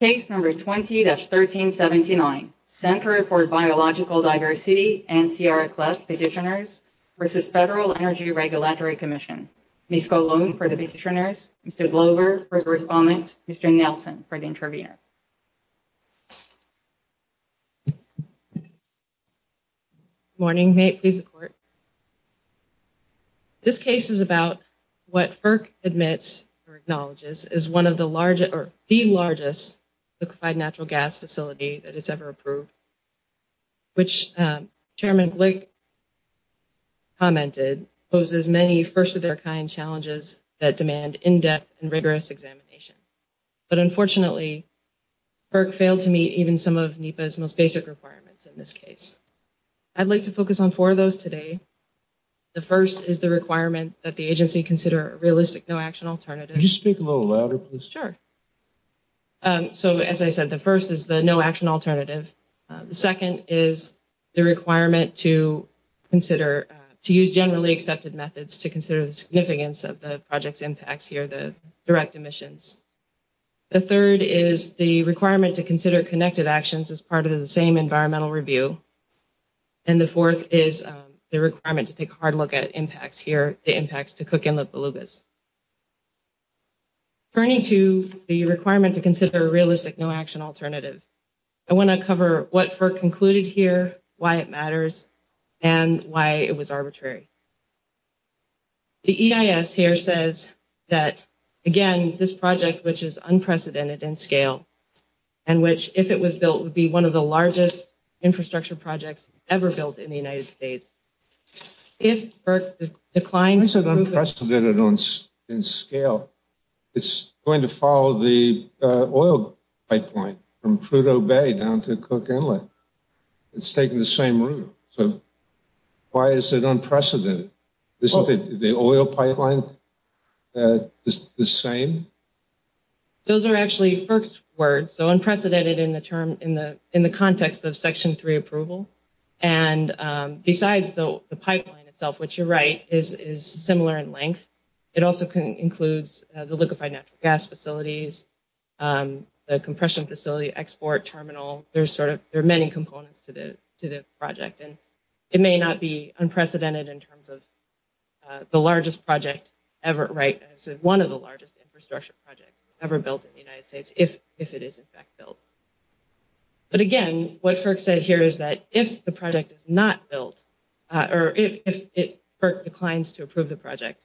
Case No. 20-1379, Center for Biological Diversity, N.C.R. Eccles, Petitioners v. Federal Energy Regulatory Commission, Ms. Colon for the Petitioners, Mr. Glover for the Respondents, Mr. Nelson for the Intervenors. Good morning, may it please the Court. This case is about what FERC admits or acknowledges is one of the largest, or the largest, liquefied natural gas facility that is ever approved, which Chairman Glick commented poses many first-of-their-kind challenges that demand in-depth and rigorous examination. But unfortunately, FERC failed to meet even some of NEPA's most basic requirements in this case. I'd like to focus on four of those today. The first is the requirement that the agency consider a realistic no-action alternative. Could you speak a little louder, please? Sure. So, as I said, the first is the no-action alternative. The second is the requirement to consider, to use generally accepted methods to consider the significance of the project's impacts here, the direct emissions. The third is the requirement to consider connected actions as part of the same environmental review. And the fourth is the requirement to take a hard look at impacts here, the impacts to Cook Inlet belugas. Turning to the requirement to consider a realistic no-action alternative, I want to cover what FERC concluded here, why it matters, and why it was arbitrary. The EIS here says that, again, this project, which is unprecedented in scale, and which if it was built, would be one of the largest infrastructure projects ever built in the United States. If FERC declines... Why is it unprecedented in scale? It's going to follow the oil pipeline from Prudhoe Bay down to Cook Inlet. It's taking the same route, so why is it unprecedented? Isn't the oil pipeline the same? Those are actually FERC's words, so unprecedented in the context of Section 3 approval. And besides the pipeline itself, which you're right, is similar in length, it also includes the liquefied natural gas facilities, the compression facility, export terminal, there are many components to the project. It may not be unprecedented in terms of the largest project ever, right? It's one of the largest infrastructure projects ever built in the United States, if it is in fact built. But again, what FERC said here is that if the project is not built, or if FERC declines to approve the project,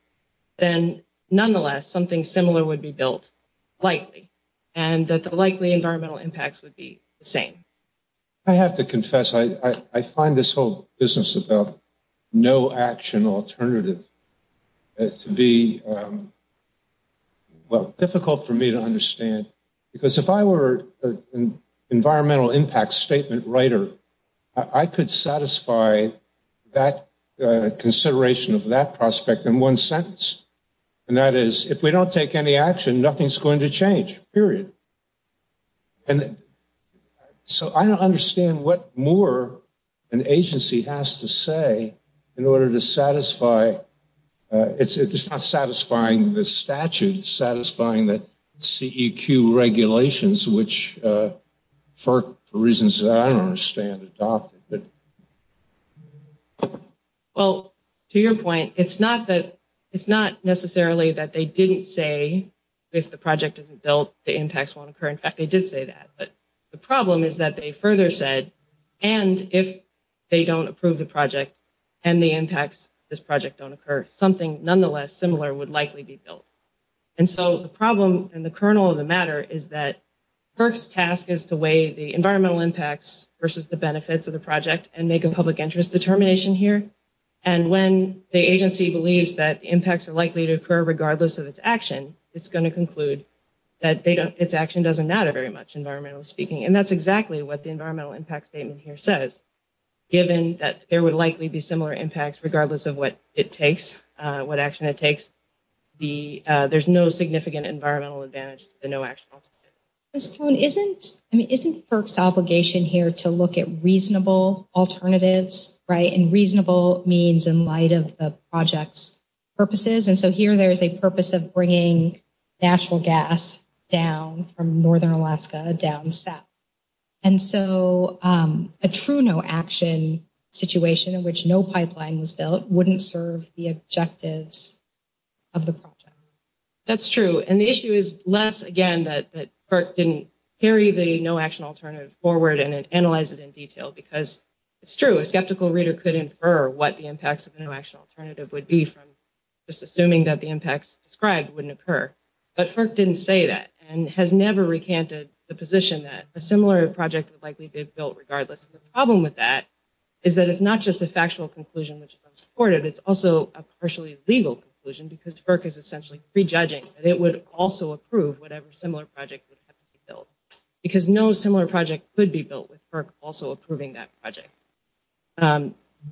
then nonetheless, something similar would be built, likely, and that the likely environmental impacts would be the same. I have to confess, I find this whole business about no action alternative to be, well, difficult for me to understand, because if I were an environmental impact statement writer, I could satisfy that consideration of that prospect in one sentence, and that is, if we don't take any action, nothing's going to change, period. And so, I don't understand what more an agency has to say in order to satisfy, it's not satisfying the statute, it's satisfying the CEQ regulations, which FERC, for reasons that I don't understand, adopted. Well, to your point, it's not that, it's not necessarily that they didn't say, if the impacts won't occur, in fact, they did say that, but the problem is that they further said, and if they don't approve the project, and the impacts of this project don't occur, something nonetheless similar would likely be built. And so, the problem, and the kernel of the matter, is that FERC's task is to weigh the environmental impacts versus the benefits of the project, and make a public interest determination here, and when the agency believes that impacts are likely to occur regardless of its action, it's going to conclude that its action doesn't matter very much, environmentally speaking, and that's exactly what the environmental impact statement here says, given that there would likely be similar impacts regardless of what it takes, what action it takes, there's no significant environmental advantage to the no-action alternative. Ms. Stone, isn't, I mean, isn't FERC's obligation here to look at reasonable alternatives, right, and reasonable means in light of the project's purposes, and so here there's a purpose of bringing natural gas down from northern Alaska, down south, and so a true no-action situation in which no pipeline was built wouldn't serve the objectives of the project. That's true, and the issue is less, again, that FERC didn't carry the no-action alternative forward and analyze it in detail, because it's true, a skeptical reader could infer what the impacts of the no-action alternative would be from just assuming that the impacts described wouldn't occur, but FERC didn't say that, and has never recanted the position that a similar project would likely be built regardless, and the problem with that is that it's not just a factual conclusion which is unsupported, it's also a partially legal conclusion because FERC is essentially prejudging that it would also approve whatever similar project would have to be built, because no similar project could be built with FERC also approving that project.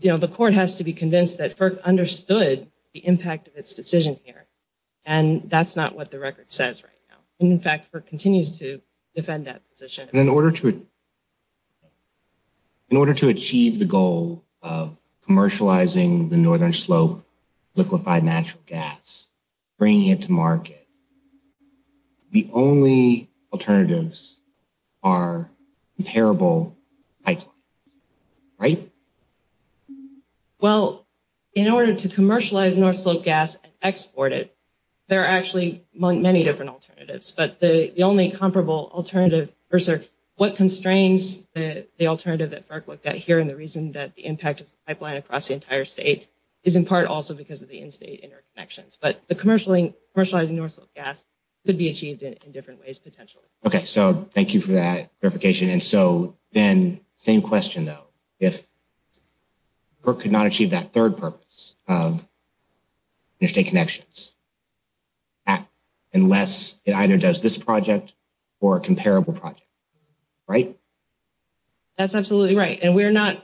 You know, the court has to be convinced that FERC understood the impact of its decision here, and that's not what the record says right now, and in fact, FERC continues to defend that position. And in order to achieve the goal of commercializing the northern slope liquefied natural gas, bringing it to market, the only alternatives are comparable pipelines, right? Well, in order to commercialize north slope gas and export it, there are actually many different alternatives, but the only comparable alternative, or what constrains the alternative that FERC looked at here and the reason that the impact of the pipeline across the entire state is in part also because of the in-state interconnections, but the commercializing north slope gas could be achieved in different ways potentially. Okay, so thank you for that clarification, and so then, same question though. If FERC could not achieve that third purpose of interstate connections, unless it either does this project or a comparable project, right? That's absolutely right, and we're not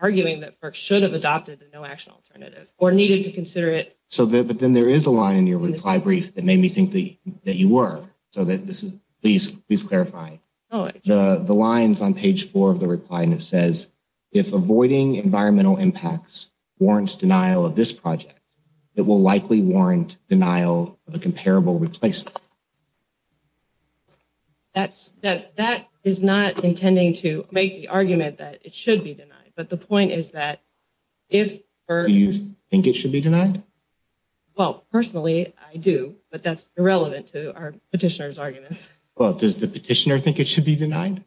arguing that FERC should have adopted the no-action alternative or needed to consider it. So then there is a line in your reply brief that made me think that you were, so please clarify. Oh, okay. The lines on page four of the reply, and it says, if avoiding environmental impacts warrants denial of this project, it will likely warrant denial of a comparable replacement. Okay. That is not intending to make the argument that it should be denied, but the point is that if FERC- Do you think it should be denied? Well, personally, I do, but that's irrelevant to our petitioner's arguments. Well, does the petitioner think it should be denied?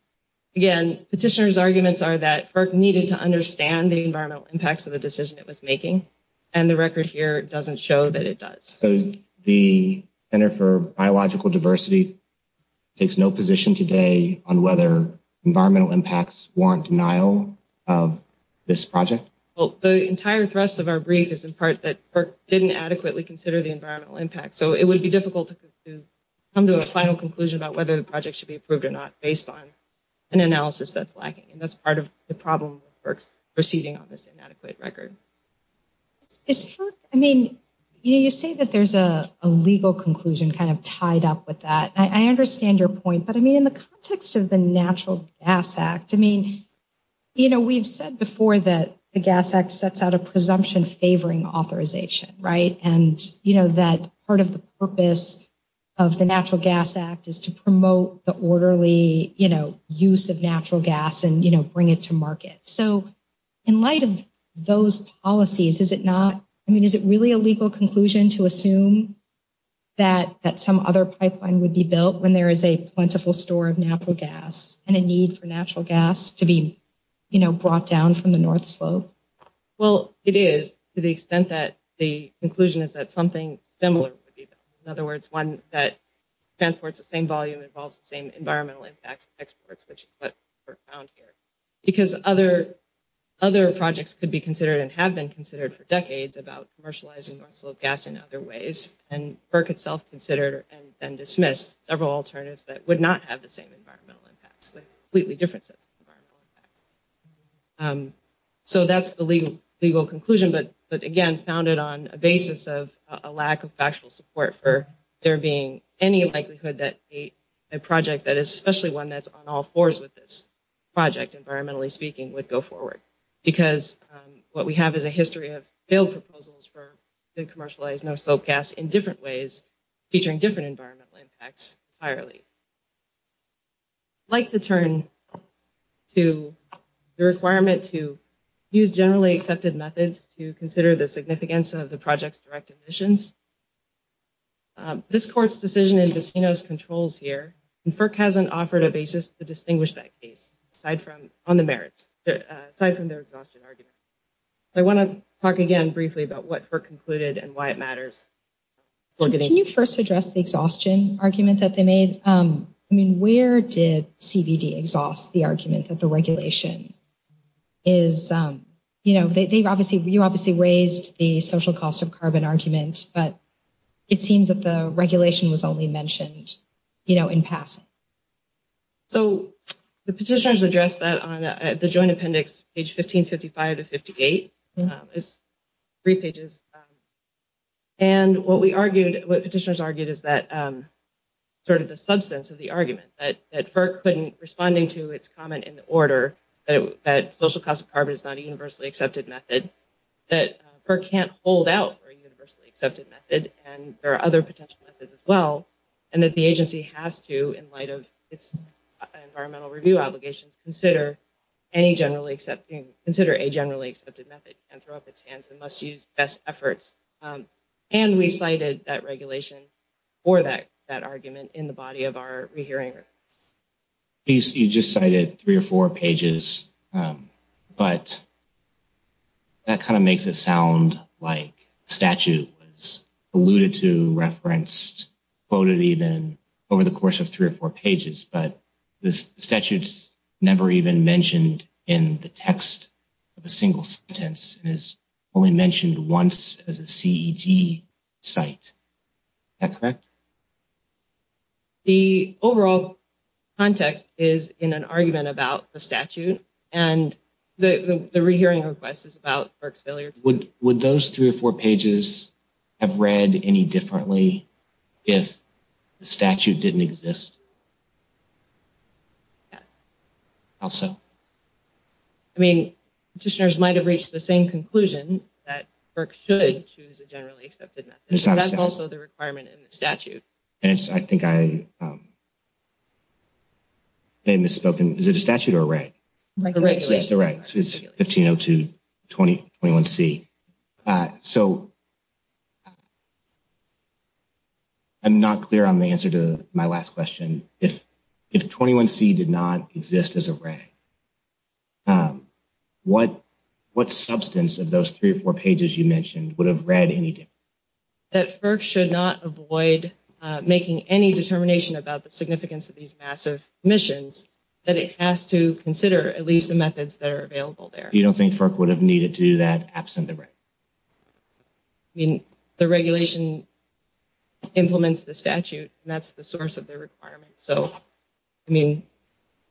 Again, petitioner's arguments are that FERC needed to understand the environmental impacts of the decision it was making, and the record here doesn't show that it does. So the Center for Biological Diversity takes no position today on whether environmental impacts warrant denial of this project? Well, the entire thrust of our brief is in part that FERC didn't adequately consider the environmental impact, so it would be difficult to come to a final conclusion about whether the project should be approved or not based on an analysis that's lacking, and that's part of the problem with FERC's proceeding on this inadequate record. Is FERC- I mean, you say that there's a legal conclusion kind of tied up with that. I understand your point, but I mean, in the context of the Natural Gas Act, I mean, you know, we've said before that the Gas Act sets out a presumption favoring authorization, right? And, you know, that part of the purpose of the Natural Gas Act is to promote the orderly, you know, use of natural gas and, you know, bring it to market. So in light of those policies, is it not- I mean, is it really a legal conclusion to assume that some other pipeline would be built when there is a plentiful store of natural gas and a need for natural gas to be, you know, brought down from the North Slope? Well, it is, to the extent that the conclusion is that something similar would be built. In other words, one that transports the same volume, involves the same environmental impacts as exports, which is what we found here. Because other projects could be considered and have been considered for decades about commercializing North Slope gas in other ways, and FERC itself considered and dismissed several alternatives that would not have the same environmental impacts with completely different sets of environmental impacts. So that's the legal conclusion, but again, founded on a basis of a lack of factual support for there being any likelihood that a project that is especially one that's on all fours with this project, environmentally speaking, would go forward. Because what we have is a history of failed proposals for commercialized North Slope gas in different ways, featuring different environmental impacts entirely. I'd like to turn to the requirement to use generally accepted methods to consider the This court's decision in Buccino's controls here, and FERC hasn't offered a basis to distinguish that case on the merits, aside from their exhaustion argument. I want to talk again briefly about what FERC concluded and why it matters. Can you first address the exhaustion argument that they made? Where did CBD exhaust the argument that the regulation is, you know, you obviously raised the social cost of carbon argument, but it seems that the regulation was only mentioned, you know, in passing. So the petitioners addressed that on the joint appendix, page 1555-58. It's three pages. And what we argued, what petitioners argued is that sort of the substance of the argument that FERC couldn't, responding to its comment in the order that social cost of carbon is not a universally accepted method, that FERC can't hold out for a universally accepted method, and there are other potential methods as well, and that the agency has to, in light of its environmental review obligations, consider any generally accepted, consider a generally accepted method and throw up its hands and must use best efforts. And we cited that regulation for that argument in the body of our rehearing. You just cited three or four pages, but that kind of makes it sound like the statute was alluded to, referenced, quoted even, over the course of three or four pages, but the statute's never even mentioned in the text of a single sentence. It is only mentioned once as a CED site. Is that correct? The overall context is in an argument about the statute. And the rehearing request is about FERC's failure. Would those three or four pages have read any differently if the statute didn't exist? Yes. How so? I mean, petitioners might have reached the same conclusion that FERC should choose a statute. I think I may have misspoken. Is it a statute or a reg? A regulation. It's a reg. It's 150221C. So, I'm not clear on the answer to my last question. If 21C did not exist as a reg, what substance of those three or four pages you mentioned would have read any differently? That FERC should not avoid making any determination about the significance of these massive missions, that it has to consider at least the methods that are available there. You don't think FERC would have needed to do that absent the reg? I mean, the regulation implements the statute, and that's the source of the requirement. So, I mean,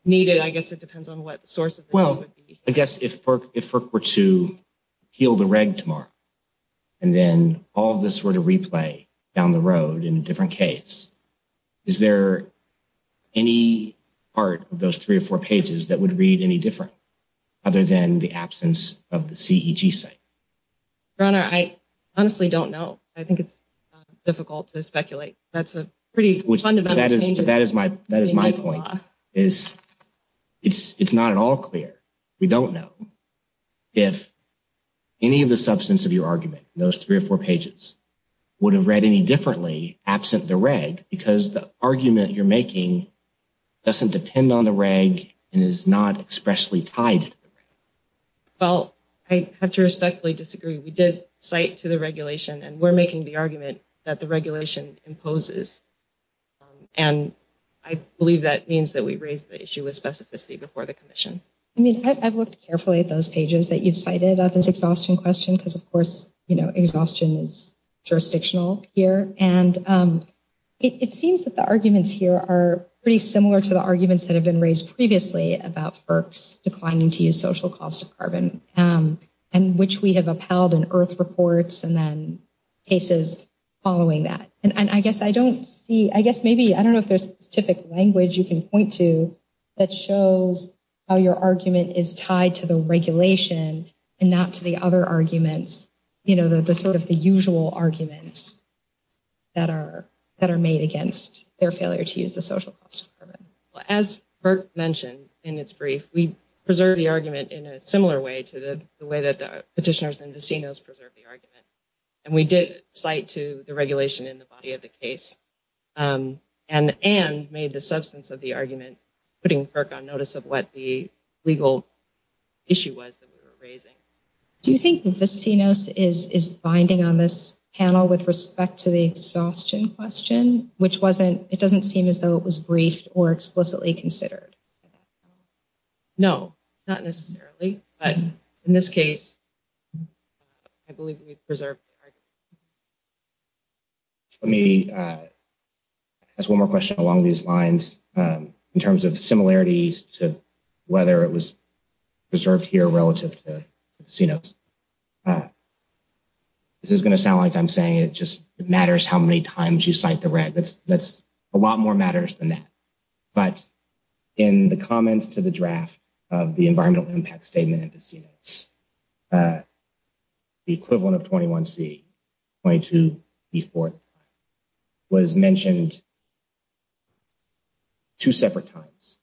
needed, I guess it depends on what the source of the reg would be. I guess if FERC were to appeal the reg tomorrow, and then all of this were to replay down the road in a different case, is there any part of those three or four pages that would read any different, other than the absence of the CEG site? Your Honor, I honestly don't know. I think it's difficult to speculate. That's a pretty fundamental change. But that is my point, is it's not at all clear. We don't know if any of the substance of your argument, those three or four pages, would have read any differently absent the reg, because the argument you're making doesn't depend on the reg and is not expressly tied to the reg. Well, I have to respectfully disagree. We did cite to the regulation, and we're making the argument that the regulation imposes. And I believe that means that we raised the issue with specificity before the Commission. I mean, I've looked carefully at those pages that you've cited about this exhaustion question, because, of course, you know, exhaustion is jurisdictional here. And it seems that the arguments here are pretty similar to the arguments that have been raised previously about FERC's declining to use social cost of carbon, and which we have upheld in IRF reports, and then cases following that. And I guess I don't see, I guess maybe, I don't know if there's specific language you can point to that shows how your argument is tied to the regulation and not to the other arguments, you know, the sort of the usual arguments that are made against their failure to use the social cost of carbon. As Burt mentioned in his brief, we preserved the argument in a similar way to the way that the petitioners and the CNOs preserved the argument. And we did cite to the regulation in the body of the case and made the substance of the argument, putting FERC on notice of what the legal issue was that we were raising. Do you think the CNOs is binding on this panel with respect to the exhaustion question, which wasn't, it doesn't seem as though it was briefed or explicitly considered? No, not necessarily. But in this case, I believe we preserved the argument. Let me ask one more question along these lines in terms of similarities to whether it was preserved here relative to the CNOs. This is going to sound like I'm saying it just matters how many times you cite the reg. That's a lot more matters than that. But in the comments to the draft of the environmental impact statement and the CNOs, the equivalent of 21C, 22B4 was mentioned two separate times.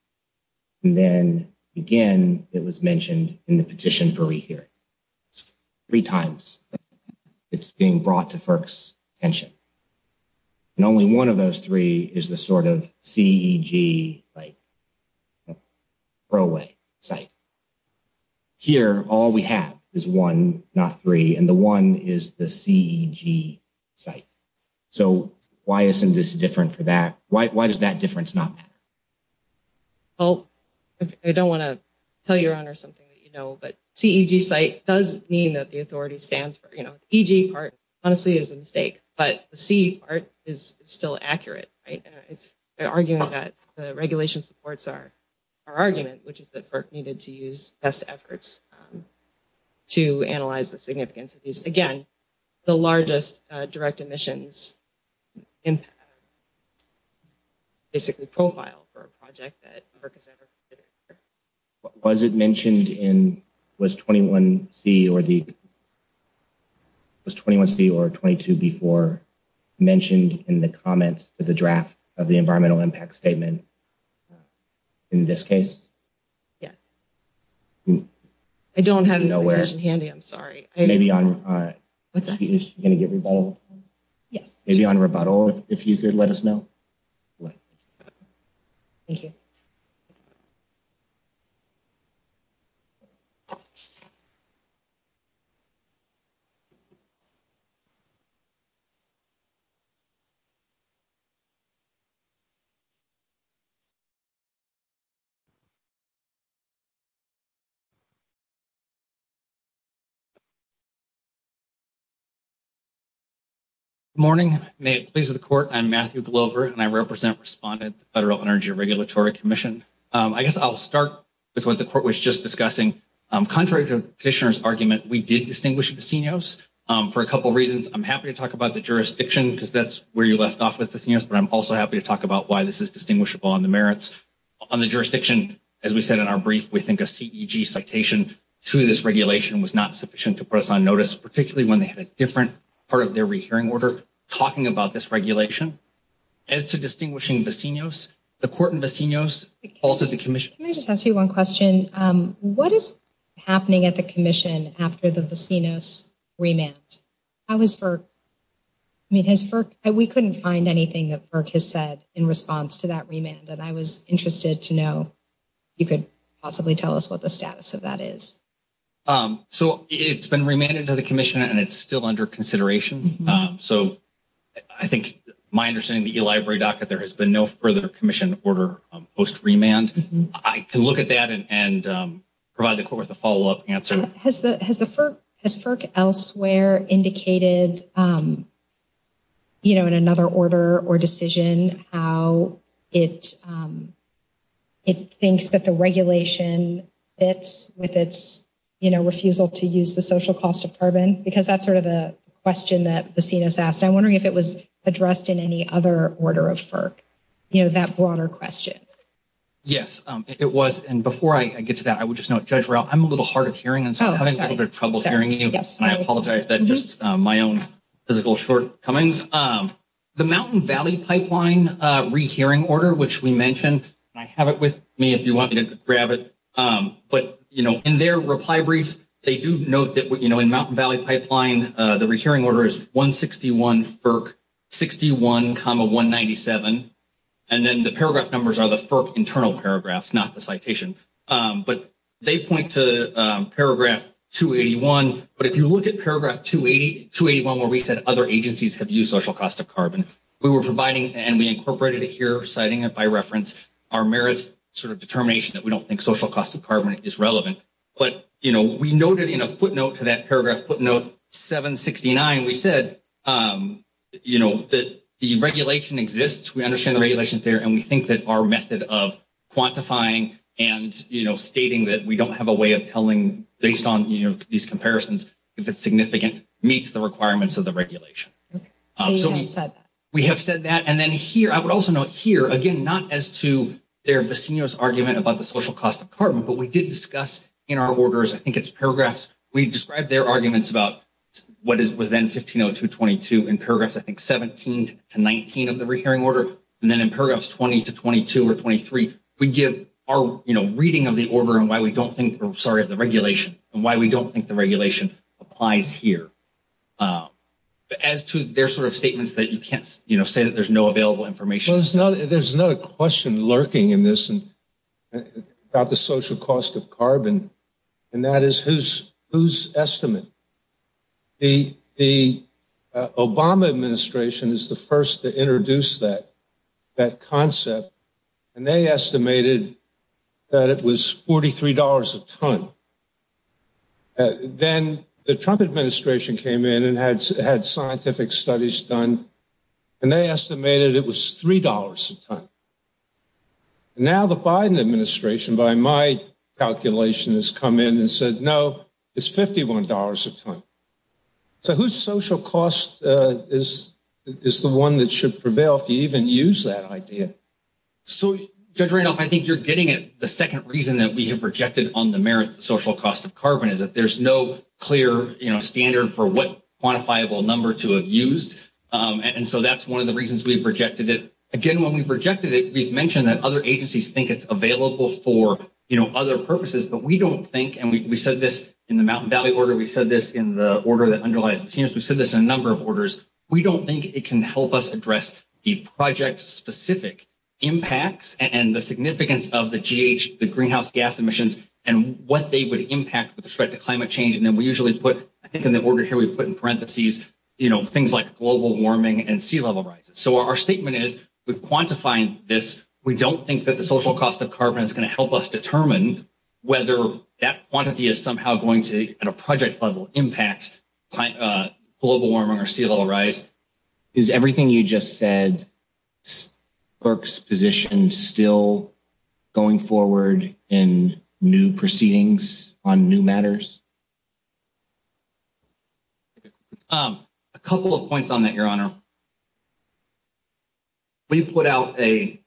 And then again, it was mentioned in the petition for rehearing. Three times it's being brought to FERC's attention. And only one of those three is the sort of CEG site. Pro way site. Here, all we have is one, not three. And the one is the CEG site. So why isn't this different for that? Why does that difference not matter? I don't want to tell your honor something that you know, but CEG site does mean that the authority stands for, you know, the CEG part honestly is a mistake, but the CEG part is still accurate. It's an argument that the regulation supports our argument, which is that FERC needed to use best efforts to analyze the significance. Again, the largest direct emissions impact, basically profile for a project that FERC has ever considered. Was it mentioned in, was 21C or the, was 21C or 22B4 mentioned in the comments of the draft of the environmental impact statement in this case? Yes. I don't have it in handy, I'm sorry. Maybe on rebuttal, if you could let us know. Thank you. Good morning. May it please the court. I'm Matthew Glover and I represent respondent with the Federal Energy Regulatory Commission. I guess I'll start with what the court was just discussing. Contrary to petitioner's argument, we did distinguish Vecinos for a couple of reasons. I'm happy to talk about the jurisdiction because that's where you left off with Vecinos, but I'm also happy to talk about why this is distinguishable on the merits. On the jurisdiction, as we said in our brief, we think a CEG citation to this regulation was not sufficient to put us on notice, particularly when they had a different part of their rehearing order talking about this regulation. As to distinguishing Vecinos, the court in Vecinos calls it a commission. Can I just ask you one question? What is happening at the commission after the Vecinos remand? How is FERC? We couldn't find anything that FERC has said in response to that remand, and I was interested to know if you could possibly tell us what the status of that is. So it's been remanded to the commission and it's still under consideration. So I think my understanding of the eLibrary docket, there has been no further commission order post-remand. I can look at that and provide the court with a follow-up answer. Has FERC elsewhere indicated, you know, in another order or decision how it thinks that the regulation fits with its, you know, refusal to use the social cost of carbon? Because that's sort of a question that Vecinos asked. I'm wondering if it was addressed in any other order of FERC, you know, that broader question. Yes, it was. And before I get to that, I would just note, Judge Rao, I'm a little hard of hearing, and so I'm having a little bit of trouble hearing you, and I apologize. That's just my own physical shortcomings. The Mountain Valley Pipeline rehearing order, which we mentioned, and I have it with me if you want me to grab it, but, you know, in their reply brief, they do note that, you know, in Mountain Valley Pipeline, the rehearing order is 161 FERC 61 comma 197, and then the paragraph numbers are the FERC internal paragraphs, not the citation. But they point to paragraph 281. But if you look at paragraph 281 where we said other agencies have used social cost of carbon, we were providing and we incorporated it here, citing it by reference, our merits sort of determination that we don't think social cost of carbon is relevant. But, you know, we noted in a footnote to that paragraph footnote 769, we said, you know, that the regulation exists, we understand the regulations there, and we think that our method of quantifying and, you know, stating that we don't have a way of telling based on, you know, these comparisons if it's significant meets the requirements of the regulation. So we have said that. And then here, I would also note here, again, not as to their Vecino's argument about the social cost of carbon, but we did discuss in our orders, I think it's paragraphs, we described their arguments about what was then 150222 in paragraphs, I think, 17 to 19 of the rehearing order, and then in paragraphs 20 to 22 or 23, we give our, you know, reading of the order and why we don't think, or sorry, of the regulation and why we don't think the regulation applies here. As to their sort of statements that you can't, you know, say that there's no available information. Well, there's another question lurking in this about the social cost of carbon, and that is whose estimate? The Obama administration is the first to introduce that concept, and they estimated that it was $43 a ton. Then the Trump administration came in and had scientific studies done, and they estimated it was $3 a ton. Now the Biden administration, by my calculation, has come in and said, no, it's $51 a ton. So whose social cost is the one that should prevail if you even use that idea? So, Judge Randolph, I think you're getting it. The second reason that we have rejected on the merits of the social cost of carbon is that there's no clear, you know, standard for what quantifiable number to have used, and so that's one of the reasons we've rejected it. Again, when we've rejected it, we've mentioned that other agencies think it's available for, you know, other purposes, but we don't think, and we said this in the Mountain Valley order. We said this in the order that underlies the seniors. We've said this in a number of orders. We don't think it can help us address the project-specific impacts and the significance of the GH, the greenhouse gas emissions, and what they would impact with respect to climate change. And then we usually put, I think in the order here we put in parentheses, you know, things like global warming and sea level rises. So our statement is we've quantified this. We don't think that the social cost of carbon is going to help us determine whether that quantity is somehow going to, at a project level, impact global warming or sea level rise. Is everything you just said, clerk's position still going forward in new proceedings on new matters? A couple of points on that, Your Honor. We put out a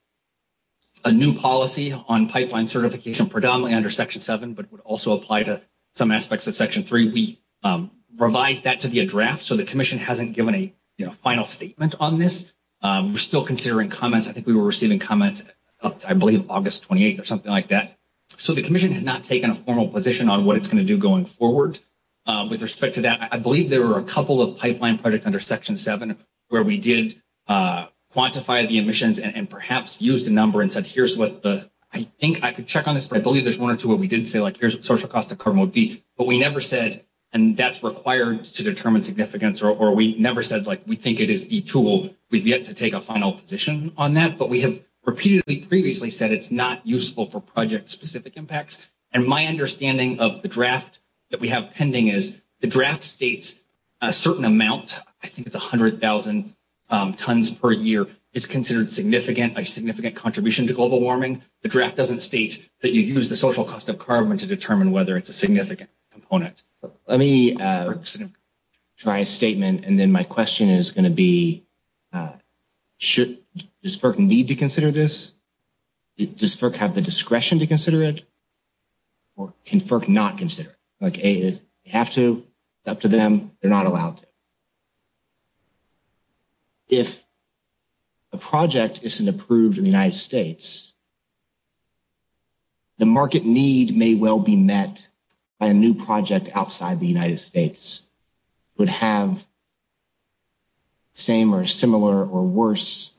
new policy on pipeline certification predominantly under Section 7, but would also apply to some aspects of Section 3. We revised that to be a draft, so the commission hasn't given a final statement on this. We're still considering comments. I think we were receiving comments, I believe, August 28th or something like that. So the commission has not taken a formal position on what it's going to do going forward with respect to that. I believe there were a couple of pipeline projects under Section 7 where we did quantify the emissions and perhaps used a number and said, here's what the – I think I could check on this, but I believe there's one or two where we did say, like, here's what the social cost of carbon would be. But we never said, and that's required to determine significance, or we never said, like, we think it is a tool. We've yet to take a final position on that. But we have repeatedly previously said it's not useful for project-specific impacts. And my understanding of the draft that we have pending is the draft states a certain amount. I think it's 100,000 tons per year is considered significant, a significant contribution to global warming. The draft doesn't state that you use the social cost of carbon to determine whether it's a significant component. Let me try a statement, and then my question is going to be, should – does FERC need to consider this? Does FERC have the discretion to consider it? Or can FERC not consider it? Like, if they have to, it's up to them. They're not allowed to. If a project isn't approved in the United States, the market need may well be met by a new project outside the United States. It would have the same or similar or worse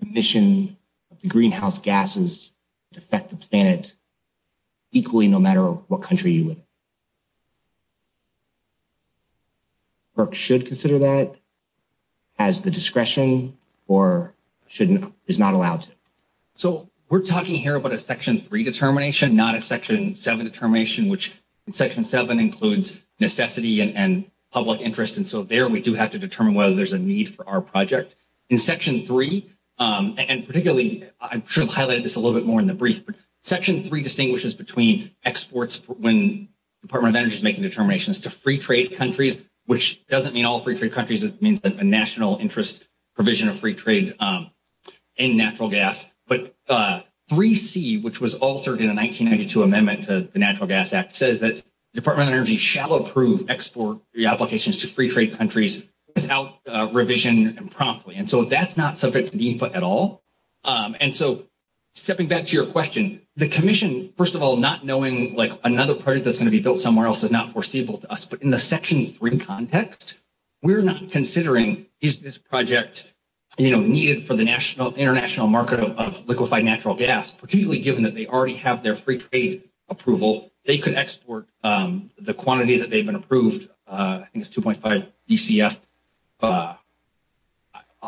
emission of the greenhouse gases that affect the planet equally no matter what country you live in. FERC should consider that as the discretion or is not allowed to? So we're talking here about a Section 3 determination, not a Section 7 determination, which in Section 7 includes necessity and public interest. And so there we do have to determine whether there's a need for our project. In Section 3, and particularly – I'm sure I've highlighted this a little bit more in the brief, but Section 3 distinguishes between exports when the Department of Energy is making determinations to free-trade countries, which doesn't mean all free-trade countries. It means a national interest provision of free trade in natural gas. But 3C, which was altered in a 1992 amendment to the Natural Gas Act, says that the Department of Energy shall approve export applications to free-trade countries without revision and promptly. And so that's not subject to the input at all. And so stepping back to your question, the Commission, first of all, not knowing another project that's going to be built somewhere else is not foreseeable to us. But in the Section 3 context, we're not considering is this project needed for the international market of liquefied natural gas, particularly given that they already have their free-trade approval. They could export the quantity that they've been approved. I think it's 2.5 BCF.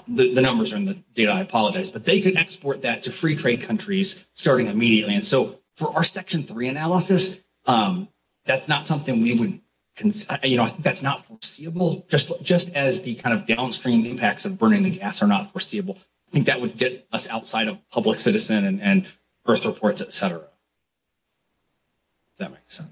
The numbers are in the data, I apologize. But they could export that to free-trade countries starting immediately. And so for our Section 3 analysis, that's not something we would consider. You know, I think that's not foreseeable. Just as the kind of downstream impacts of burning the gas are not foreseeable, I think that would get us outside of public citizen and birth reports, et cetera, if that makes sense.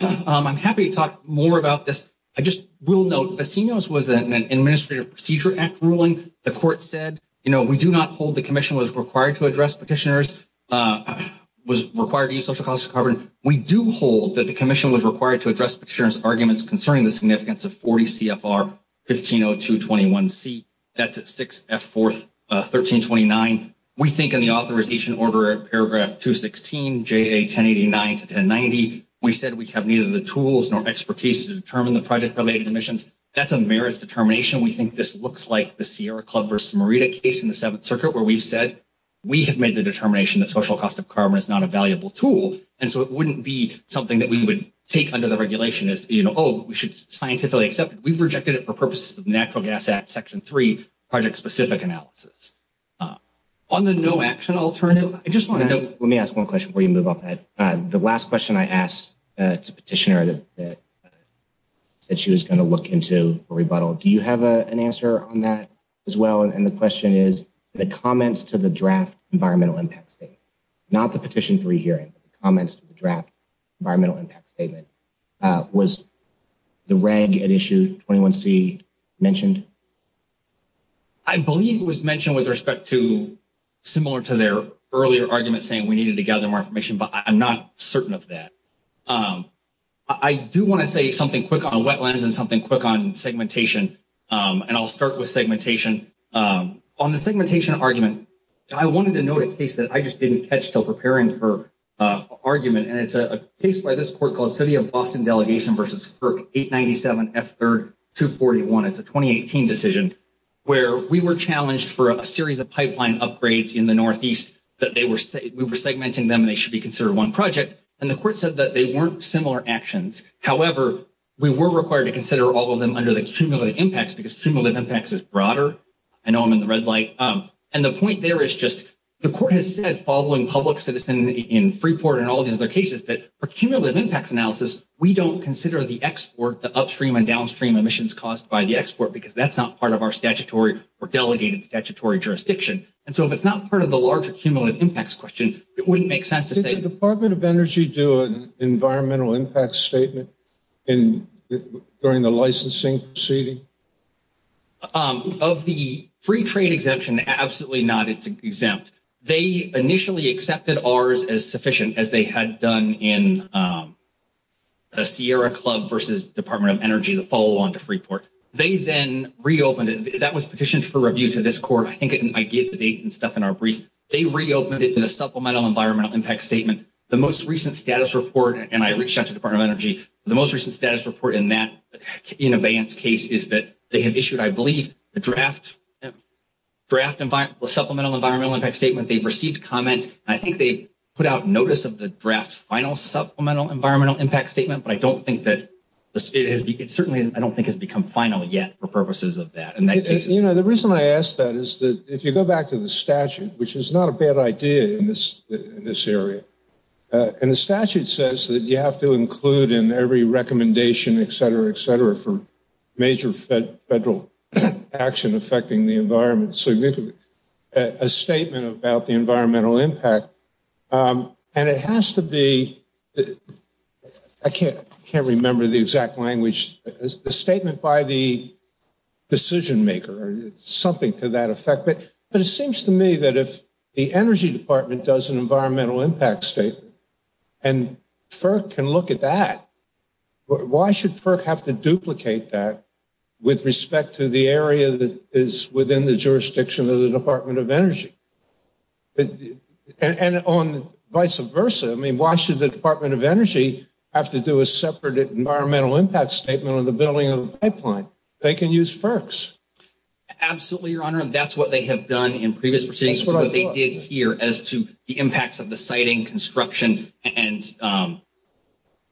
I'm happy to talk more about this. I just will note Vecinos was an Administrative Procedure Act ruling. The Court said, you know, we do not hold the Commission was required to address petitioners, was required to use social cost of carbon. We do hold that the Commission was required to address petitioners' arguments concerning the significance of 40 CFR 150221C. That's at 6F4, 1329. We think in the authorization order at paragraph 216, JA 1089 to 1090, we said we have neither the tools nor expertise to determine the project-related emissions. That's a merits determination. We think this looks like the Sierra Club versus Merida case in the Seventh Circuit, where we've said we have made the determination that social cost of carbon is not a valuable tool. And so it wouldn't be something that we would take under the regulation as, you know, oh, we should scientifically accept it. We've rejected it for purposes of Natural Gas Act Section 3 project-specific analysis. On the no action alternative, I just want to note. Let me ask one question before you move off that. The last question I asked the petitioner that she was going to look into a rebuttal, do you have an answer on that as well? And the question is, the comments to the draft environmental impact statement, not the Petition 3 hearing, but the comments to the draft environmental impact statement, was the reg at issue 21C mentioned? I believe it was mentioned with respect to similar to their earlier argument saying we needed to gather more information, but I'm not certain of that. I do want to say something quick on wetlands and something quick on segmentation, and I'll start with segmentation. On the segmentation argument, I wanted to note a case that I just didn't catch till preparing for argument, and it's a case by this court called City of Boston Delegation versus FERC 897F3-241. It's a 2018 decision where we were challenged for a series of pipeline upgrades in the northeast that we were segmenting them and they should be considered one project, and the court said that they weren't similar actions. However, we were required to consider all of them under the cumulative impacts because cumulative impacts is broader. I know I'm in the red light. And the point there is just the court has said, following public citizen in Freeport and all these other cases, that for cumulative impacts analysis, we don't consider the export, the upstream and downstream emissions caused by the export, because that's not part of our statutory or delegated statutory jurisdiction. And so if it's not part of the larger cumulative impacts question, it wouldn't make sense to say— During the licensing proceeding? Of the free trade exemption, absolutely not. It's exempt. They initially accepted ours as sufficient as they had done in the Sierra Club versus Department of Energy, the follow-on to Freeport. They then reopened it. That was petitioned for review to this court. I think I gave the dates and stuff in our brief. They reopened it in a supplemental environmental impact statement. The most recent status report—and I reached out to the Department of Energy. The most recent status report in that case is that they have issued, I believe, a draft supplemental environmental impact statement. They've received comments. I think they put out notice of the draft final supplemental environmental impact statement, but I don't think that—it certainly, I don't think, has become final yet for purposes of that. You know, the reason I ask that is that if you go back to the statute, which is not a bad idea in this area, and the statute says that you have to include in every recommendation, et cetera, et cetera, for major federal action affecting the environment a statement about the environmental impact. And it has to be—I can't remember the exact language. A statement by the decision maker or something to that effect. But it seems to me that if the Energy Department does an environmental impact statement and FERC can look at that, why should FERC have to duplicate that with respect to the area that is within the jurisdiction of the Department of Energy? And vice versa. I mean, why should the Department of Energy have to do a separate environmental impact statement on the building of the pipeline? They can use FERCs. Absolutely, Your Honor. That's what they have done in previous proceedings. That's what I thought. That's what they did here as to the impacts of the siting, construction, and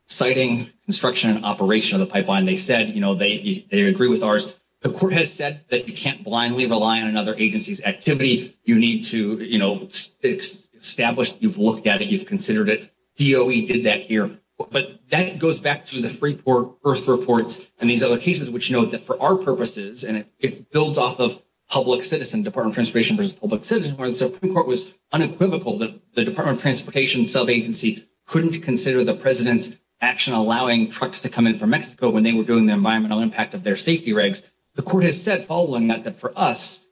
siting, construction, and operation of the pipeline. They said, you know, they agree with ours. The court has said that you can't blindly rely on another agency's activity. You need to, you know, establish that you've looked at it, you've considered it. DOE did that here. But that goes back to the Freeport Earth reports and these other cases, which note that for our purposes, and it builds off of public citizen, Department of Transportation versus public citizen, where the Supreme Court was unequivocal that the Department of Transportation sub-agency couldn't consider the president's action in allowing trucks to come in from Mexico when they were doing the environmental impact of their safety regs. The court has said, following that, that for us,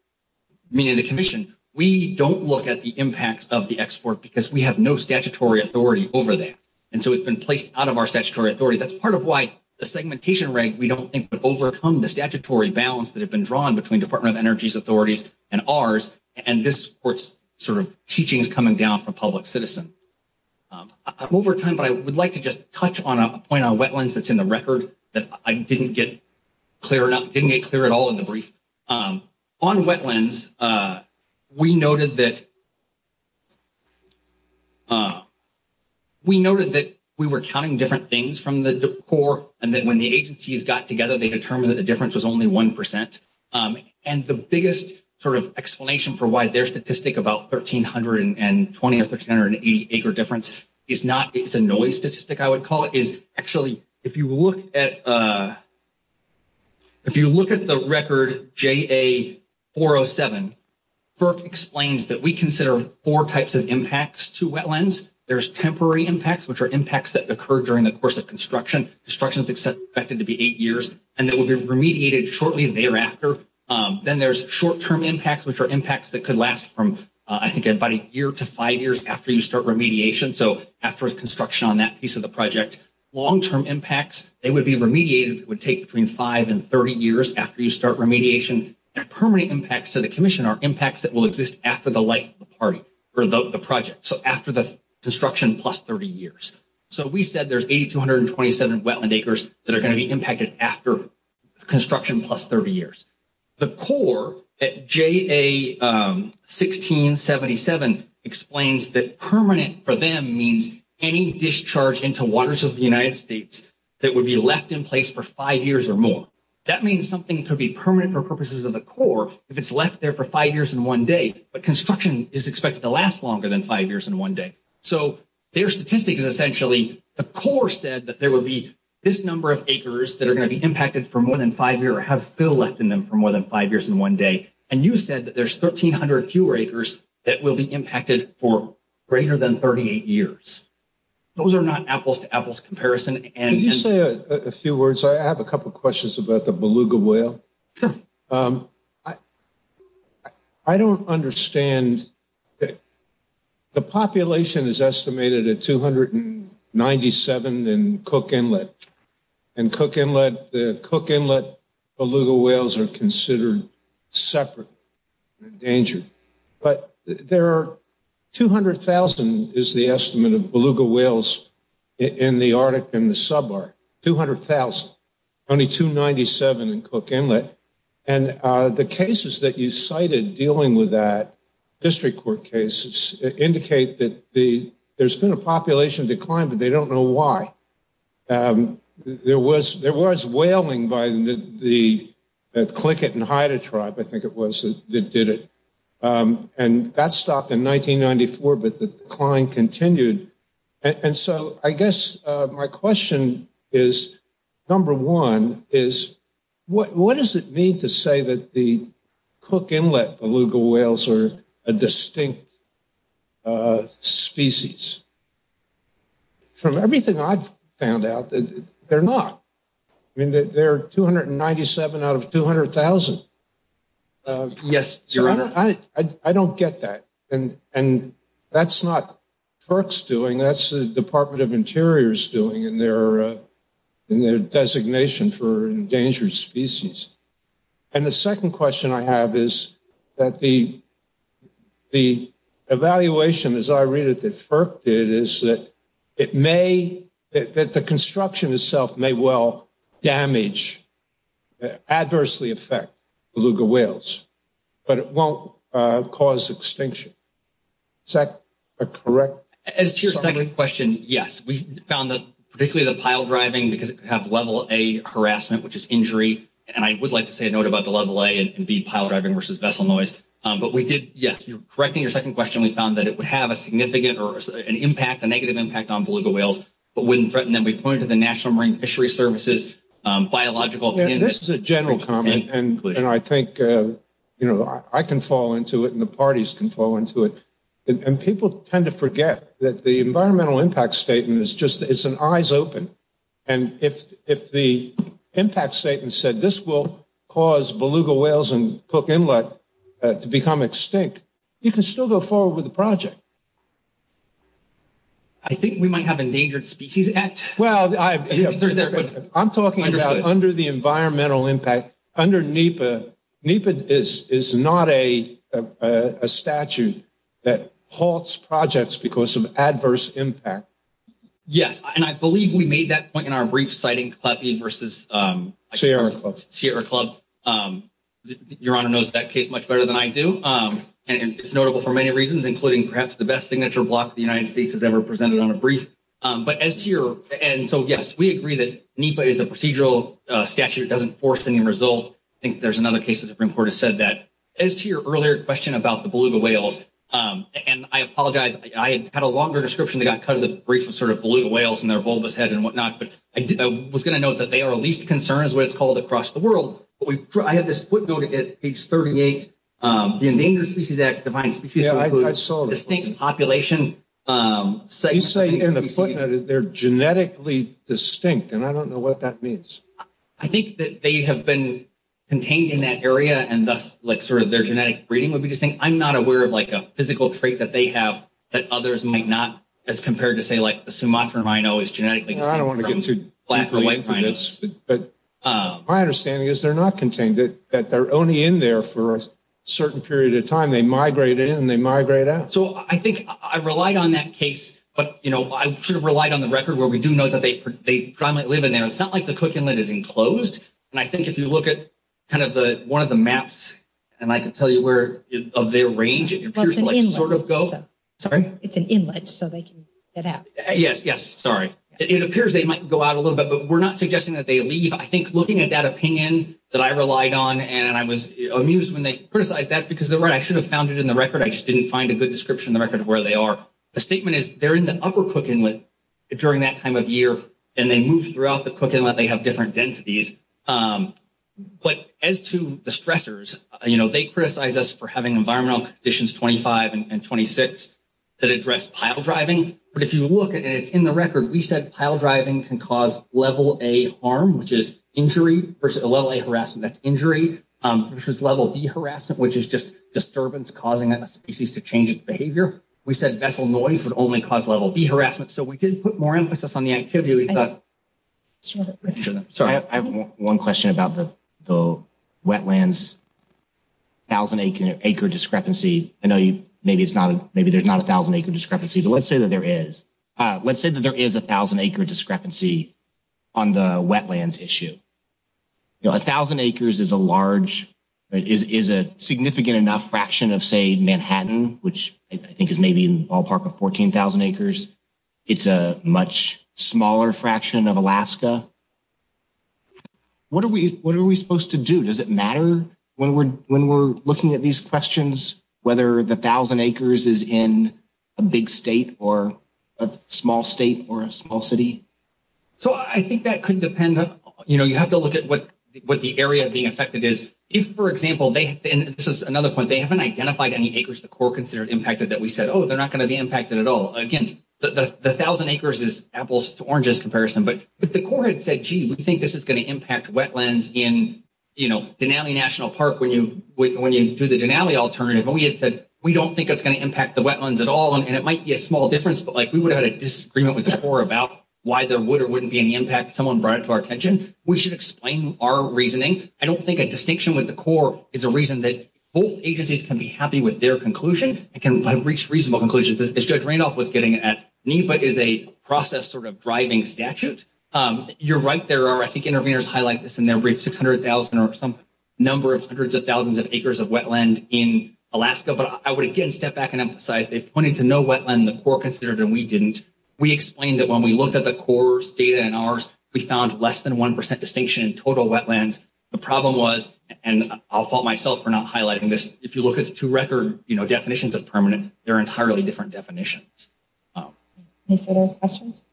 meaning the commission, we don't look at the impacts of the export because we have no statutory authority over that. And so it's been placed out of our statutory authority. That's part of why the segmentation reg, we don't think, would overcome the statutory balance that had been drawn between Department of Energy's authorities and ours. And this court's sort of teaching is coming down from public citizen. Over time, but I would like to just touch on a point on wetlands that's in the record that I didn't get clear enough, didn't get clear at all in the brief. On wetlands, we noted that we were counting different things from the core, and then when the agencies got together, they determined that the difference was only 1%. And the biggest sort of explanation for why their statistic about 1,320 or 1,380 acre difference is not, it's a noise statistic, I would call it, is actually, if you look at the record JA-407, FERC explains that we consider four types of impacts to wetlands. There's temporary impacts, which are impacts that occur during the course of construction. Construction is expected to be eight years, and that will be remediated shortly thereafter. Then there's short-term impacts, which are impacts that could last from, I think, about a year to five years after you start remediation. So after construction on that piece of the project. Long-term impacts, they would be remediated. It would take between five and 30 years after you start remediation. And permanent impacts to the commission are impacts that will exist after the life of the project. So after the construction plus 30 years. So we said there's 8,227 wetland acres that are going to be impacted after construction plus 30 years. The core at JA-1677 explains that permanent for them means any discharge into waters of the United States that would be left in place for five years or more. That means something could be permanent for purposes of the core if it's left there for five years and one day, but construction is expected to last longer than five years and one day. So their statistic is essentially the core said that there would be this number of acres that are going to be impacted for more than five years or have fill left in them for more than five years and one day. And you said that there's 1,300 fewer acres that will be impacted for greater than 38 years. Those are not apples to apples comparison. Could you say a few words? I have a couple of questions about the beluga whale. Sure. I don't understand. The population is estimated at 297 in Cook Inlet. In Cook Inlet, the Cook Inlet beluga whales are considered separate and endangered. But there are 200,000 is the estimate of beluga whales in the Arctic and the sub-Arctic, 200,000. Only 297 in Cook Inlet. And the cases that you cited dealing with that, district court cases, indicate that there's been a population decline, but they don't know why. There was whaling by the Tlingit and Haida tribe, I think it was, that did it. And that stopped in 1994, but the decline continued. And so I guess my question is, number one, is what does it mean to say that the Cook Inlet beluga whales are a distinct species? From everything I've found out, they're not. I mean, they're 297 out of 200,000. Yes, Your Honor. I don't get that. And that's not FERC's doing. That's the Department of Interior's doing in their designation for endangered species. And the second question I have is that the evaluation, as I read it, that FERC did, is that it may, that the construction itself may well damage, adversely affect beluga whales. But it won't cause extinction. Is that a correct summary? As to your second question, yes. We found that particularly the pile driving, because it could have level A harassment, which is injury. And I would like to say a note about the level A and B pile driving versus vessel noise. But we did, yes, you're correcting your second question. We found that it would have a significant or an impact, a negative impact on beluga whales, but wouldn't threaten them. We pointed to the National Marine Fisheries Service's biological opinion. This is a general comment. And I think, you know, I can fall into it and the parties can fall into it. And people tend to forget that the environmental impact statement is just, it's an eyes open. And if the impact statement said this will cause beluga whales and Cook Inlet to become extinct, you can still go forward with the project. I think we might have Endangered Species Act. Well, I'm talking about under the environmental impact, under NEPA, NEPA is not a statute that halts projects because of adverse impact. Yes, and I believe we made that point in our brief citing CLEPI versus Sierra Club. Your Honor knows that case much better than I do. And it's notable for many reasons, including perhaps the best signature block the United States has ever presented on a brief. But as to your, and so, yes, we agree that NEPA is a procedural statute. It doesn't force any result. I think there's another case that the Supreme Court has said that. As to your earlier question about the beluga whales, and I apologize, I had a longer description that got cut of the brief of sort of beluga whales and their bulbous head and whatnot. But I was going to note that they are of least concern is what it's called across the world. But I have this footnote at page 38. The Endangered Species Act defines species that include distinct population. You say in the footnote that they're genetically distinct, and I don't know what that means. I think that they have been contained in that area, and thus, like, sort of their genetic breeding would be distinct. I'm not aware of, like, a physical trait that they have that others might not as compared to, say, like the Sumatran rhino is genetically distinct from black or white rhinos. I don't want to get too deeply into this, but my understanding is they're not contained, that they're only in there for a certain period of time. They migrate in and they migrate out. So I think I relied on that case. But, you know, I should have relied on the record where we do know that they primarily live in there. It's not like the Cook Inlet is enclosed. And I think if you look at kind of one of the maps, and I can tell you where of their range, it appears to sort of go. Sorry? It's an inlet, so they can get out. Yes, yes, sorry. It appears they might go out a little bit, but we're not suggesting that they leave. I think looking at that opinion that I relied on, and I was amused when they criticized that, because they're right, I should have found it in the record. I just didn't find a good description in the record of where they are. The statement is they're in the upper Cook Inlet during that time of year, and they move throughout the Cook Inlet. They have different densities. But as to the stressors, you know, they criticize us for having environmental conditions 25 and 26 that address pile driving. But if you look, and it's in the record, we said pile driving can cause Level A harm, which is injury versus Level A harassment. That's injury versus Level B harassment, which is just disturbance causing a species to change its behavior. We said vessel noise would only cause Level B harassment. So we did put more emphasis on the activity. I have one question about the wetlands 1,000-acre discrepancy. I know maybe there's not a 1,000-acre discrepancy, but let's say that there is. Let's say that there is a 1,000-acre discrepancy on the wetlands issue. You know, 1,000 acres is a significant enough fraction of, say, Manhattan, which I think is maybe in the ballpark of 14,000 acres. It's a much smaller fraction of Alaska. What are we supposed to do? Does it matter when we're looking at these questions whether the 1,000 acres is in a big state or a small state or a small city? So I think that could depend. You know, you have to look at what the area being affected is. If, for example, and this is another point, they haven't identified any acres the Corps considered impacted that we said, oh, they're not going to be impacted at all. Again, the 1,000 acres is apples to oranges comparison. But the Corps had said, gee, we think this is going to impact wetlands in Denali National Park when you do the Denali alternative. And we had said, we don't think it's going to impact the wetlands at all, and it might be a small difference, but we would have had a disagreement with the Corps about why there would or wouldn't be any impact if someone brought it to our attention. We should explain our reasoning. I don't think a distinction with the Corps is a reason that both agencies can be happy with their conclusion and can reach reasonable conclusions, as Judge Randolph was getting at. NEPA is a process sort of driving statute. You're right, there are, I think, interveners highlight this in their brief, 600,000 or some number of hundreds of thousands of acres of wetland in Alaska. But I would, again, step back and emphasize, they pointed to no wetland the Corps considered and we didn't. We explained that when we looked at the Corps' data and ours, we found less than 1% distinction in total wetlands. The problem was, and I'll fault myself for not highlighting this, if you look at the two record definitions of permanent, they're entirely different definitions. Any further questions?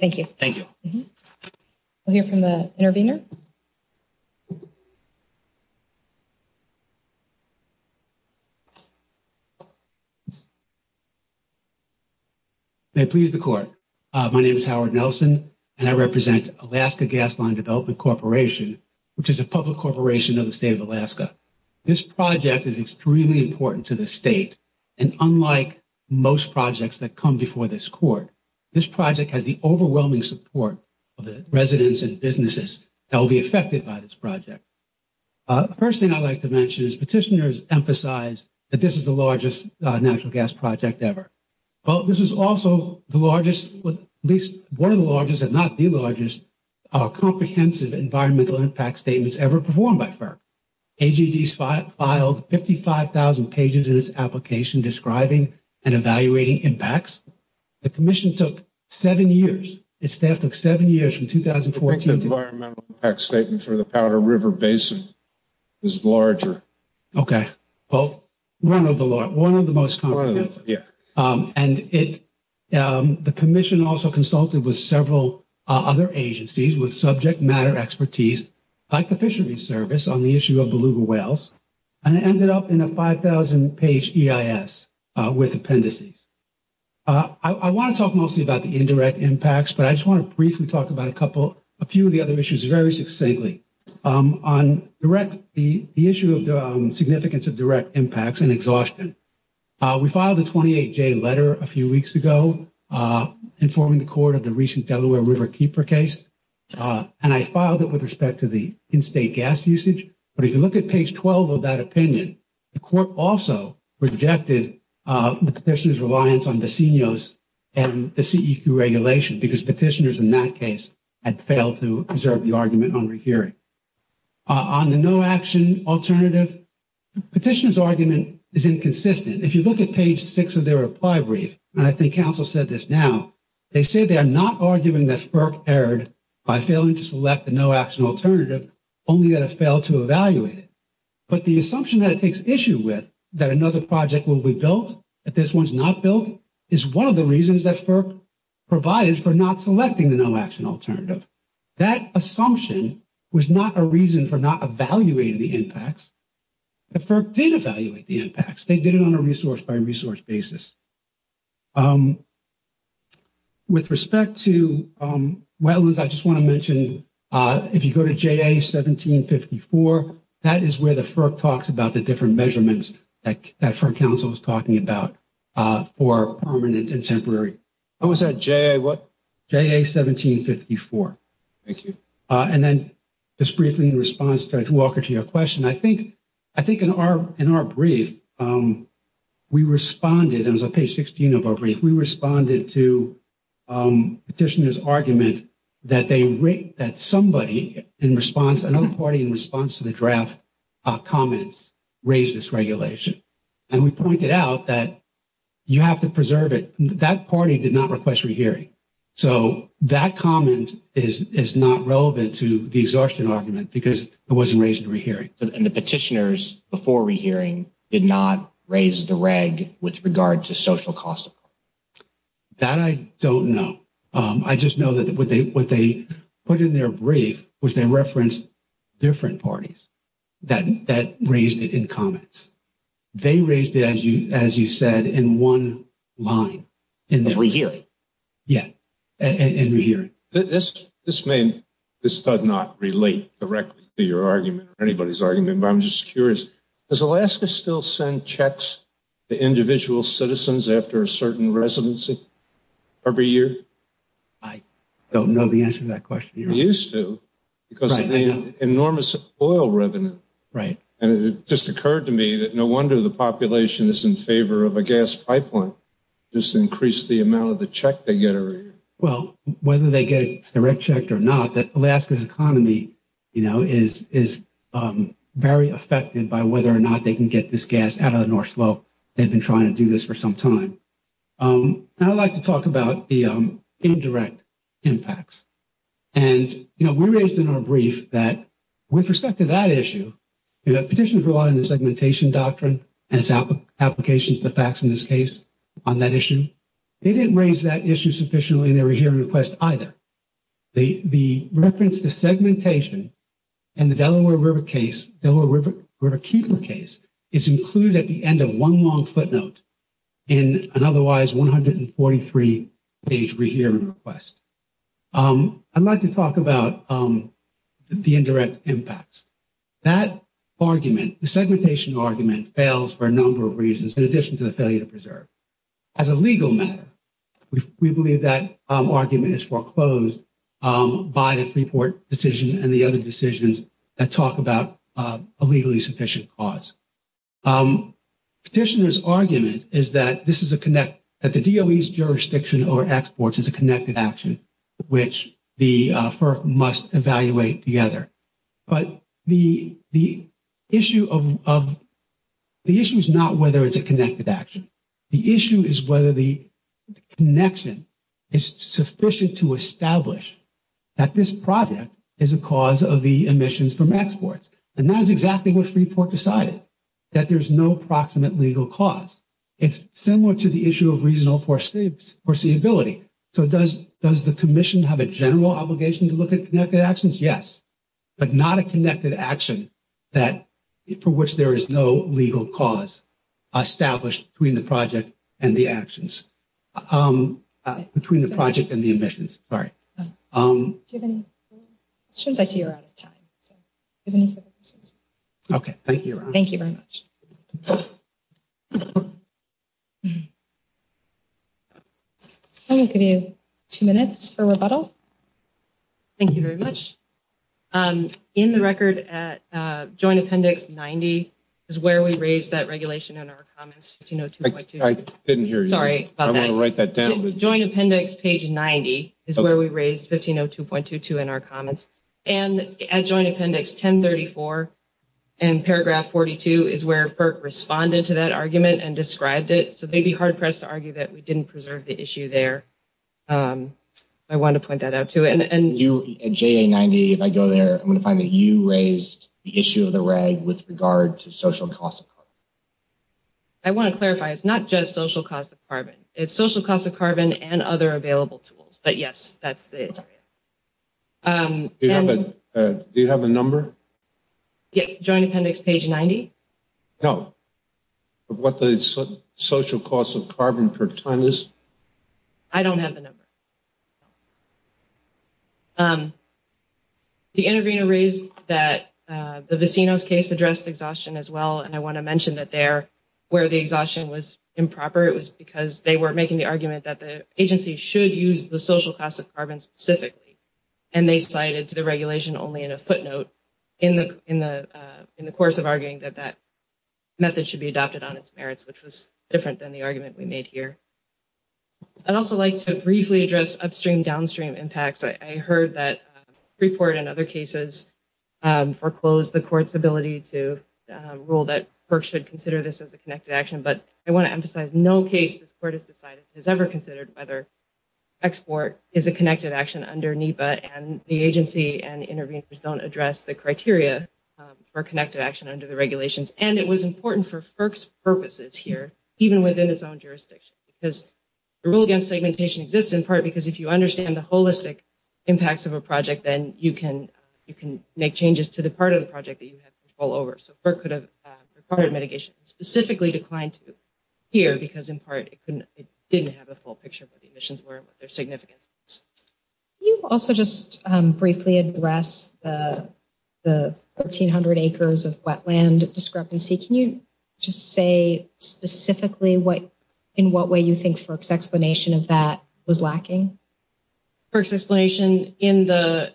Thank you. We'll hear from the intervener. May it please the Court. My name is Howard Nelson, and I represent Alaska Gas Line Development Corporation, which is a public corporation of the state of Alaska. This project is extremely important to the state. And unlike most projects that come before this Court, this project has the overwhelming support of the residents and businesses that will be affected by this project. The first thing I'd like to mention is petitioners emphasize that this is the largest natural gas project ever. Well, this is also the largest, at least one of the largest, if not the largest, comprehensive environmental impact statements ever performed by FERC. AGD filed 55,000 pages in its application describing and evaluating impacts. The Commission took seven years. Its staff took seven years from 2014. I think the environmental impact statement for the Powder River Basin is larger. Okay. Well, one of the most comprehensive. And the Commission also consulted with several other agencies with subject matter expertise, like the Fisheries Service, on the issue of Beluga whales. And it ended up in a 5,000-page EIS with appendices. I want to talk mostly about the indirect impacts, but I just want to briefly talk about a couple, a few of the other issues very succinctly. On the issue of the significance of direct impacts and exhaustion, we filed a 28-J letter a few weeks ago informing the Court of the recent Delaware River Keeper case. And I filed it with respect to the in-state gas usage. But if you look at page 12 of that opinion, the Court also rejected the petitioner's reliance on decenios and the CEQ regulation, because petitioners in that case had failed to preserve the argument on rehearing. On the no-action alternative, the petitioner's argument is inconsistent. If you look at page 6 of their reply brief, and I think counsel said this now, they say they are not arguing that FERC erred by failing to select the no-action alternative, only that it failed to evaluate it. But the assumption that it takes issue with, that another project will be built, that this one's not built, is one of the reasons that FERC provided for not selecting the no-action alternative. That assumption was not a reason for not evaluating the impacts. The FERC did evaluate the impacts. They did it on a resource-by-resource basis. With respect to wetlands, I just want to mention, if you go to JA-1754, that is where the FERC talks about the different measurements that FERC counsel was talking about for permanent and temporary. What was that, JA what? JA-1754. Thank you. And then just briefly in response to Judge Walker to your question, I think in our brief, we responded, and it was on page 16 of our brief, we responded to Petitioner's argument that somebody in response, another party in response to the draft comments raised this regulation. And we pointed out that you have to preserve it. That party did not request rehearing. So that comment is not relevant to the exhaustion argument because it wasn't raised in rehearing. And the petitioners before rehearing did not raise the reg with regard to social cost? That I don't know. I just know that what they put in their brief was they referenced different parties that raised it in comments. They raised it, as you said, in one line. In rehearing. Yeah, in rehearing. This may, this does not relate directly to your argument or anybody's argument, but I'm just curious. Does Alaska still send checks to individual citizens after a certain residency every year? I don't know the answer to that question. You used to because of the enormous oil revenue. Right. And it just occurred to me that no wonder the population is in favor of a gas pipeline. Just increase the amount of the check they get every year. Well, whether they get a direct check or not, that Alaska's economy, you know, is very affected by whether or not they can get this gas out of the North Slope. They've been trying to do this for some time. And I'd like to talk about the indirect impacts. And, you know, we raised in our brief that with respect to that issue, petitions rely on the segmentation doctrine and its applications to facts in this case on that issue. They didn't raise that issue sufficiently in their rehearing request either. The reference to segmentation in the Delaware River case, Delaware River Kepler case, is included at the end of one long footnote in an otherwise 143-page rehearing request. I'd like to talk about the indirect impacts. That argument, the segmentation argument, fails for a number of reasons in addition to the failure to preserve. As a legal matter, we believe that argument is foreclosed by the Freeport decision and the other decisions that talk about a legally sufficient cause. Petitioner's argument is that this is a connect, that the DOE's jurisdiction over exports is a connected action, which the FERC must evaluate together. But the issue of the issue is not whether it's a connected action. The issue is whether the connection is sufficient to establish that this project is a cause of the emissions from exports. And that is exactly what Freeport decided, that there's no proximate legal cause. It's similar to the issue of reasonable foreseeability. So does the commission have a general obligation to look at connected actions? Yes. But not a connected action for which there is no legal cause established between the project and the actions. Between the project and the emissions. Sorry. Do you have any questions? I see you're out of time. Okay. Thank you, Ron. Thank you very much. I'm going to give you two minutes for rebuttal. Thank you very much. In the record at Joint Appendix 90 is where we raised that regulation in our comments. I didn't hear you. Sorry about that. I want to write that down. Joint Appendix page 90 is where we raised 1502.22 in our comments. And at Joint Appendix 1034 and paragraph 42 is where FERC responded to that argument and described it. So they'd be hard pressed to argue that we didn't preserve the issue there. I want to point that out, too. At JA 90, if I go there, I'm going to find that you raised the issue of the reg with regard to social cost of carbon. I want to clarify. It's not just social cost of carbon. It's social cost of carbon and other available tools. But, yes, that's it. Do you have a number? Joint Appendix page 90? No. Of what the social cost of carbon per ton is? I don't have the number. The intervener raised that the Vicinos case addressed exhaustion as well, and I want to mention that there where the exhaustion was improper, it was because they were making the argument that the agency should use the social cost of carbon specifically. And they cited the regulation only in a footnote in the course of arguing that that method should be adopted on its merits, which was different than the argument we made here. I'd also like to briefly address upstream-downstream impacts. I heard that Freeport, in other cases, foreclosed the court's ability to rule that FERC should consider this as a connected action, but I want to emphasize no case this court has ever considered whether export is a connected action under NEPA, and the agency and interveners don't address the criteria for connected action under the regulations. And it was important for FERC's purposes here, even within its own jurisdiction, because the rule against segmentation exists in part because if you understand the holistic impacts of a project, then you can make changes to the part of the project that you have control over. So FERC could have required mitigation and specifically declined to here because, in part, it didn't have a full picture of what the emissions were and what their significance was. Can you also just briefly address the 1,300 acres of wetland discrepancy? Can you just say specifically in what way you think FERC's explanation of that was lacking? FERC's explanation in the…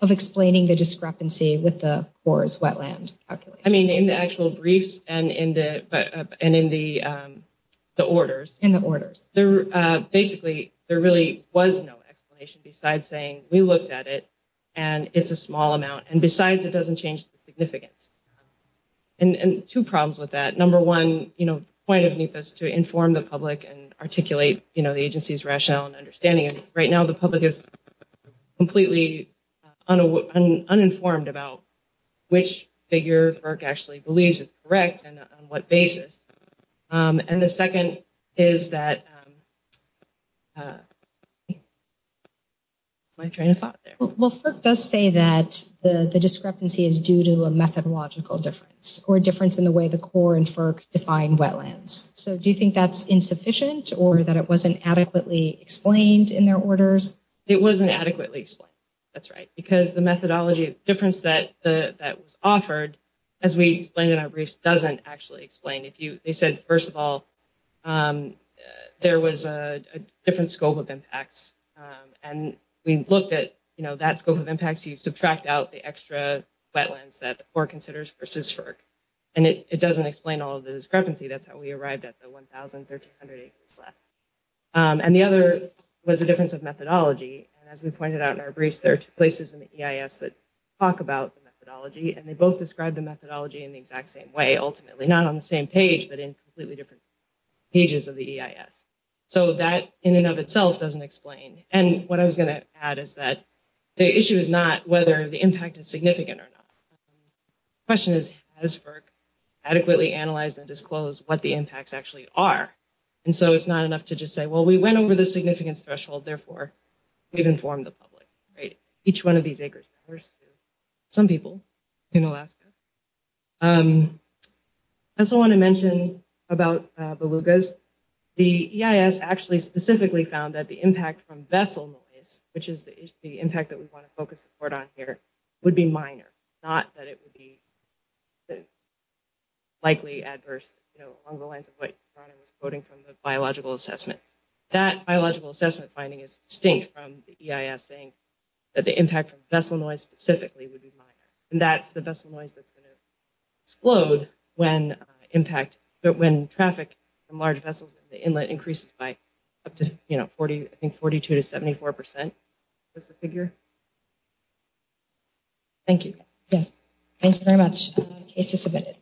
Of explaining the discrepancy with the forest wetland calculation. I mean, in the actual briefs and in the orders. In the orders. Basically, there really was no explanation besides saying we looked at it and it's a small amount. And besides, it doesn't change the significance. And two problems with that. Number one, the point of NEPA is to inform the public and articulate the agency's rationale and understanding. Right now, the public is completely uninformed about which figure FERC actually believes is correct and on what basis. And the second is that… Am I trying to thought there? Well, FERC does say that the discrepancy is due to a methodological difference or a difference in the way the CORE and FERC define wetlands. So do you think that's insufficient or that it wasn't adequately explained in their orders? It wasn't adequately explained. That's right. Because the methodology difference that was offered, as we explained in our briefs, doesn't actually explain it. They said, first of all, there was a different scope of impacts. And we looked at that scope of impacts. You subtract out the extra wetlands that CORE considers versus FERC. And it doesn't explain all of the discrepancy. That's how we arrived at the 1,300 acres left. And the other was a difference of methodology. And as we pointed out in our briefs, there are two places in the EIS that talk about the methodology. And they both describe the methodology in the exact same way, ultimately. Not on the same page, but in completely different pages of the EIS. So that, in and of itself, doesn't explain. And what I was going to add is that the issue is not whether the impact is significant or not. The question is, has FERC adequately analyzed and disclosed what the impacts actually are? And so it's not enough to just say, well, we went over the significance threshold. Therefore, we've informed the public. Each one of these acres. Some people in Alaska. I also want to mention about belugas. The EIS actually specifically found that the impact from vessel noise, which is the impact that we want to focus the report on here, would be minor. Not that it would be likely adverse along the lines of what Ron was quoting from the biological assessment. That biological assessment finding is distinct from the EIS saying that the impact from vessel noise specifically would be minor. And that's the vessel noise that's going to explode when traffic from large vessels in the inlet increases by up to 42 to 74 percent. That's the figure. Thank you. Thank you very much. Case is submitted.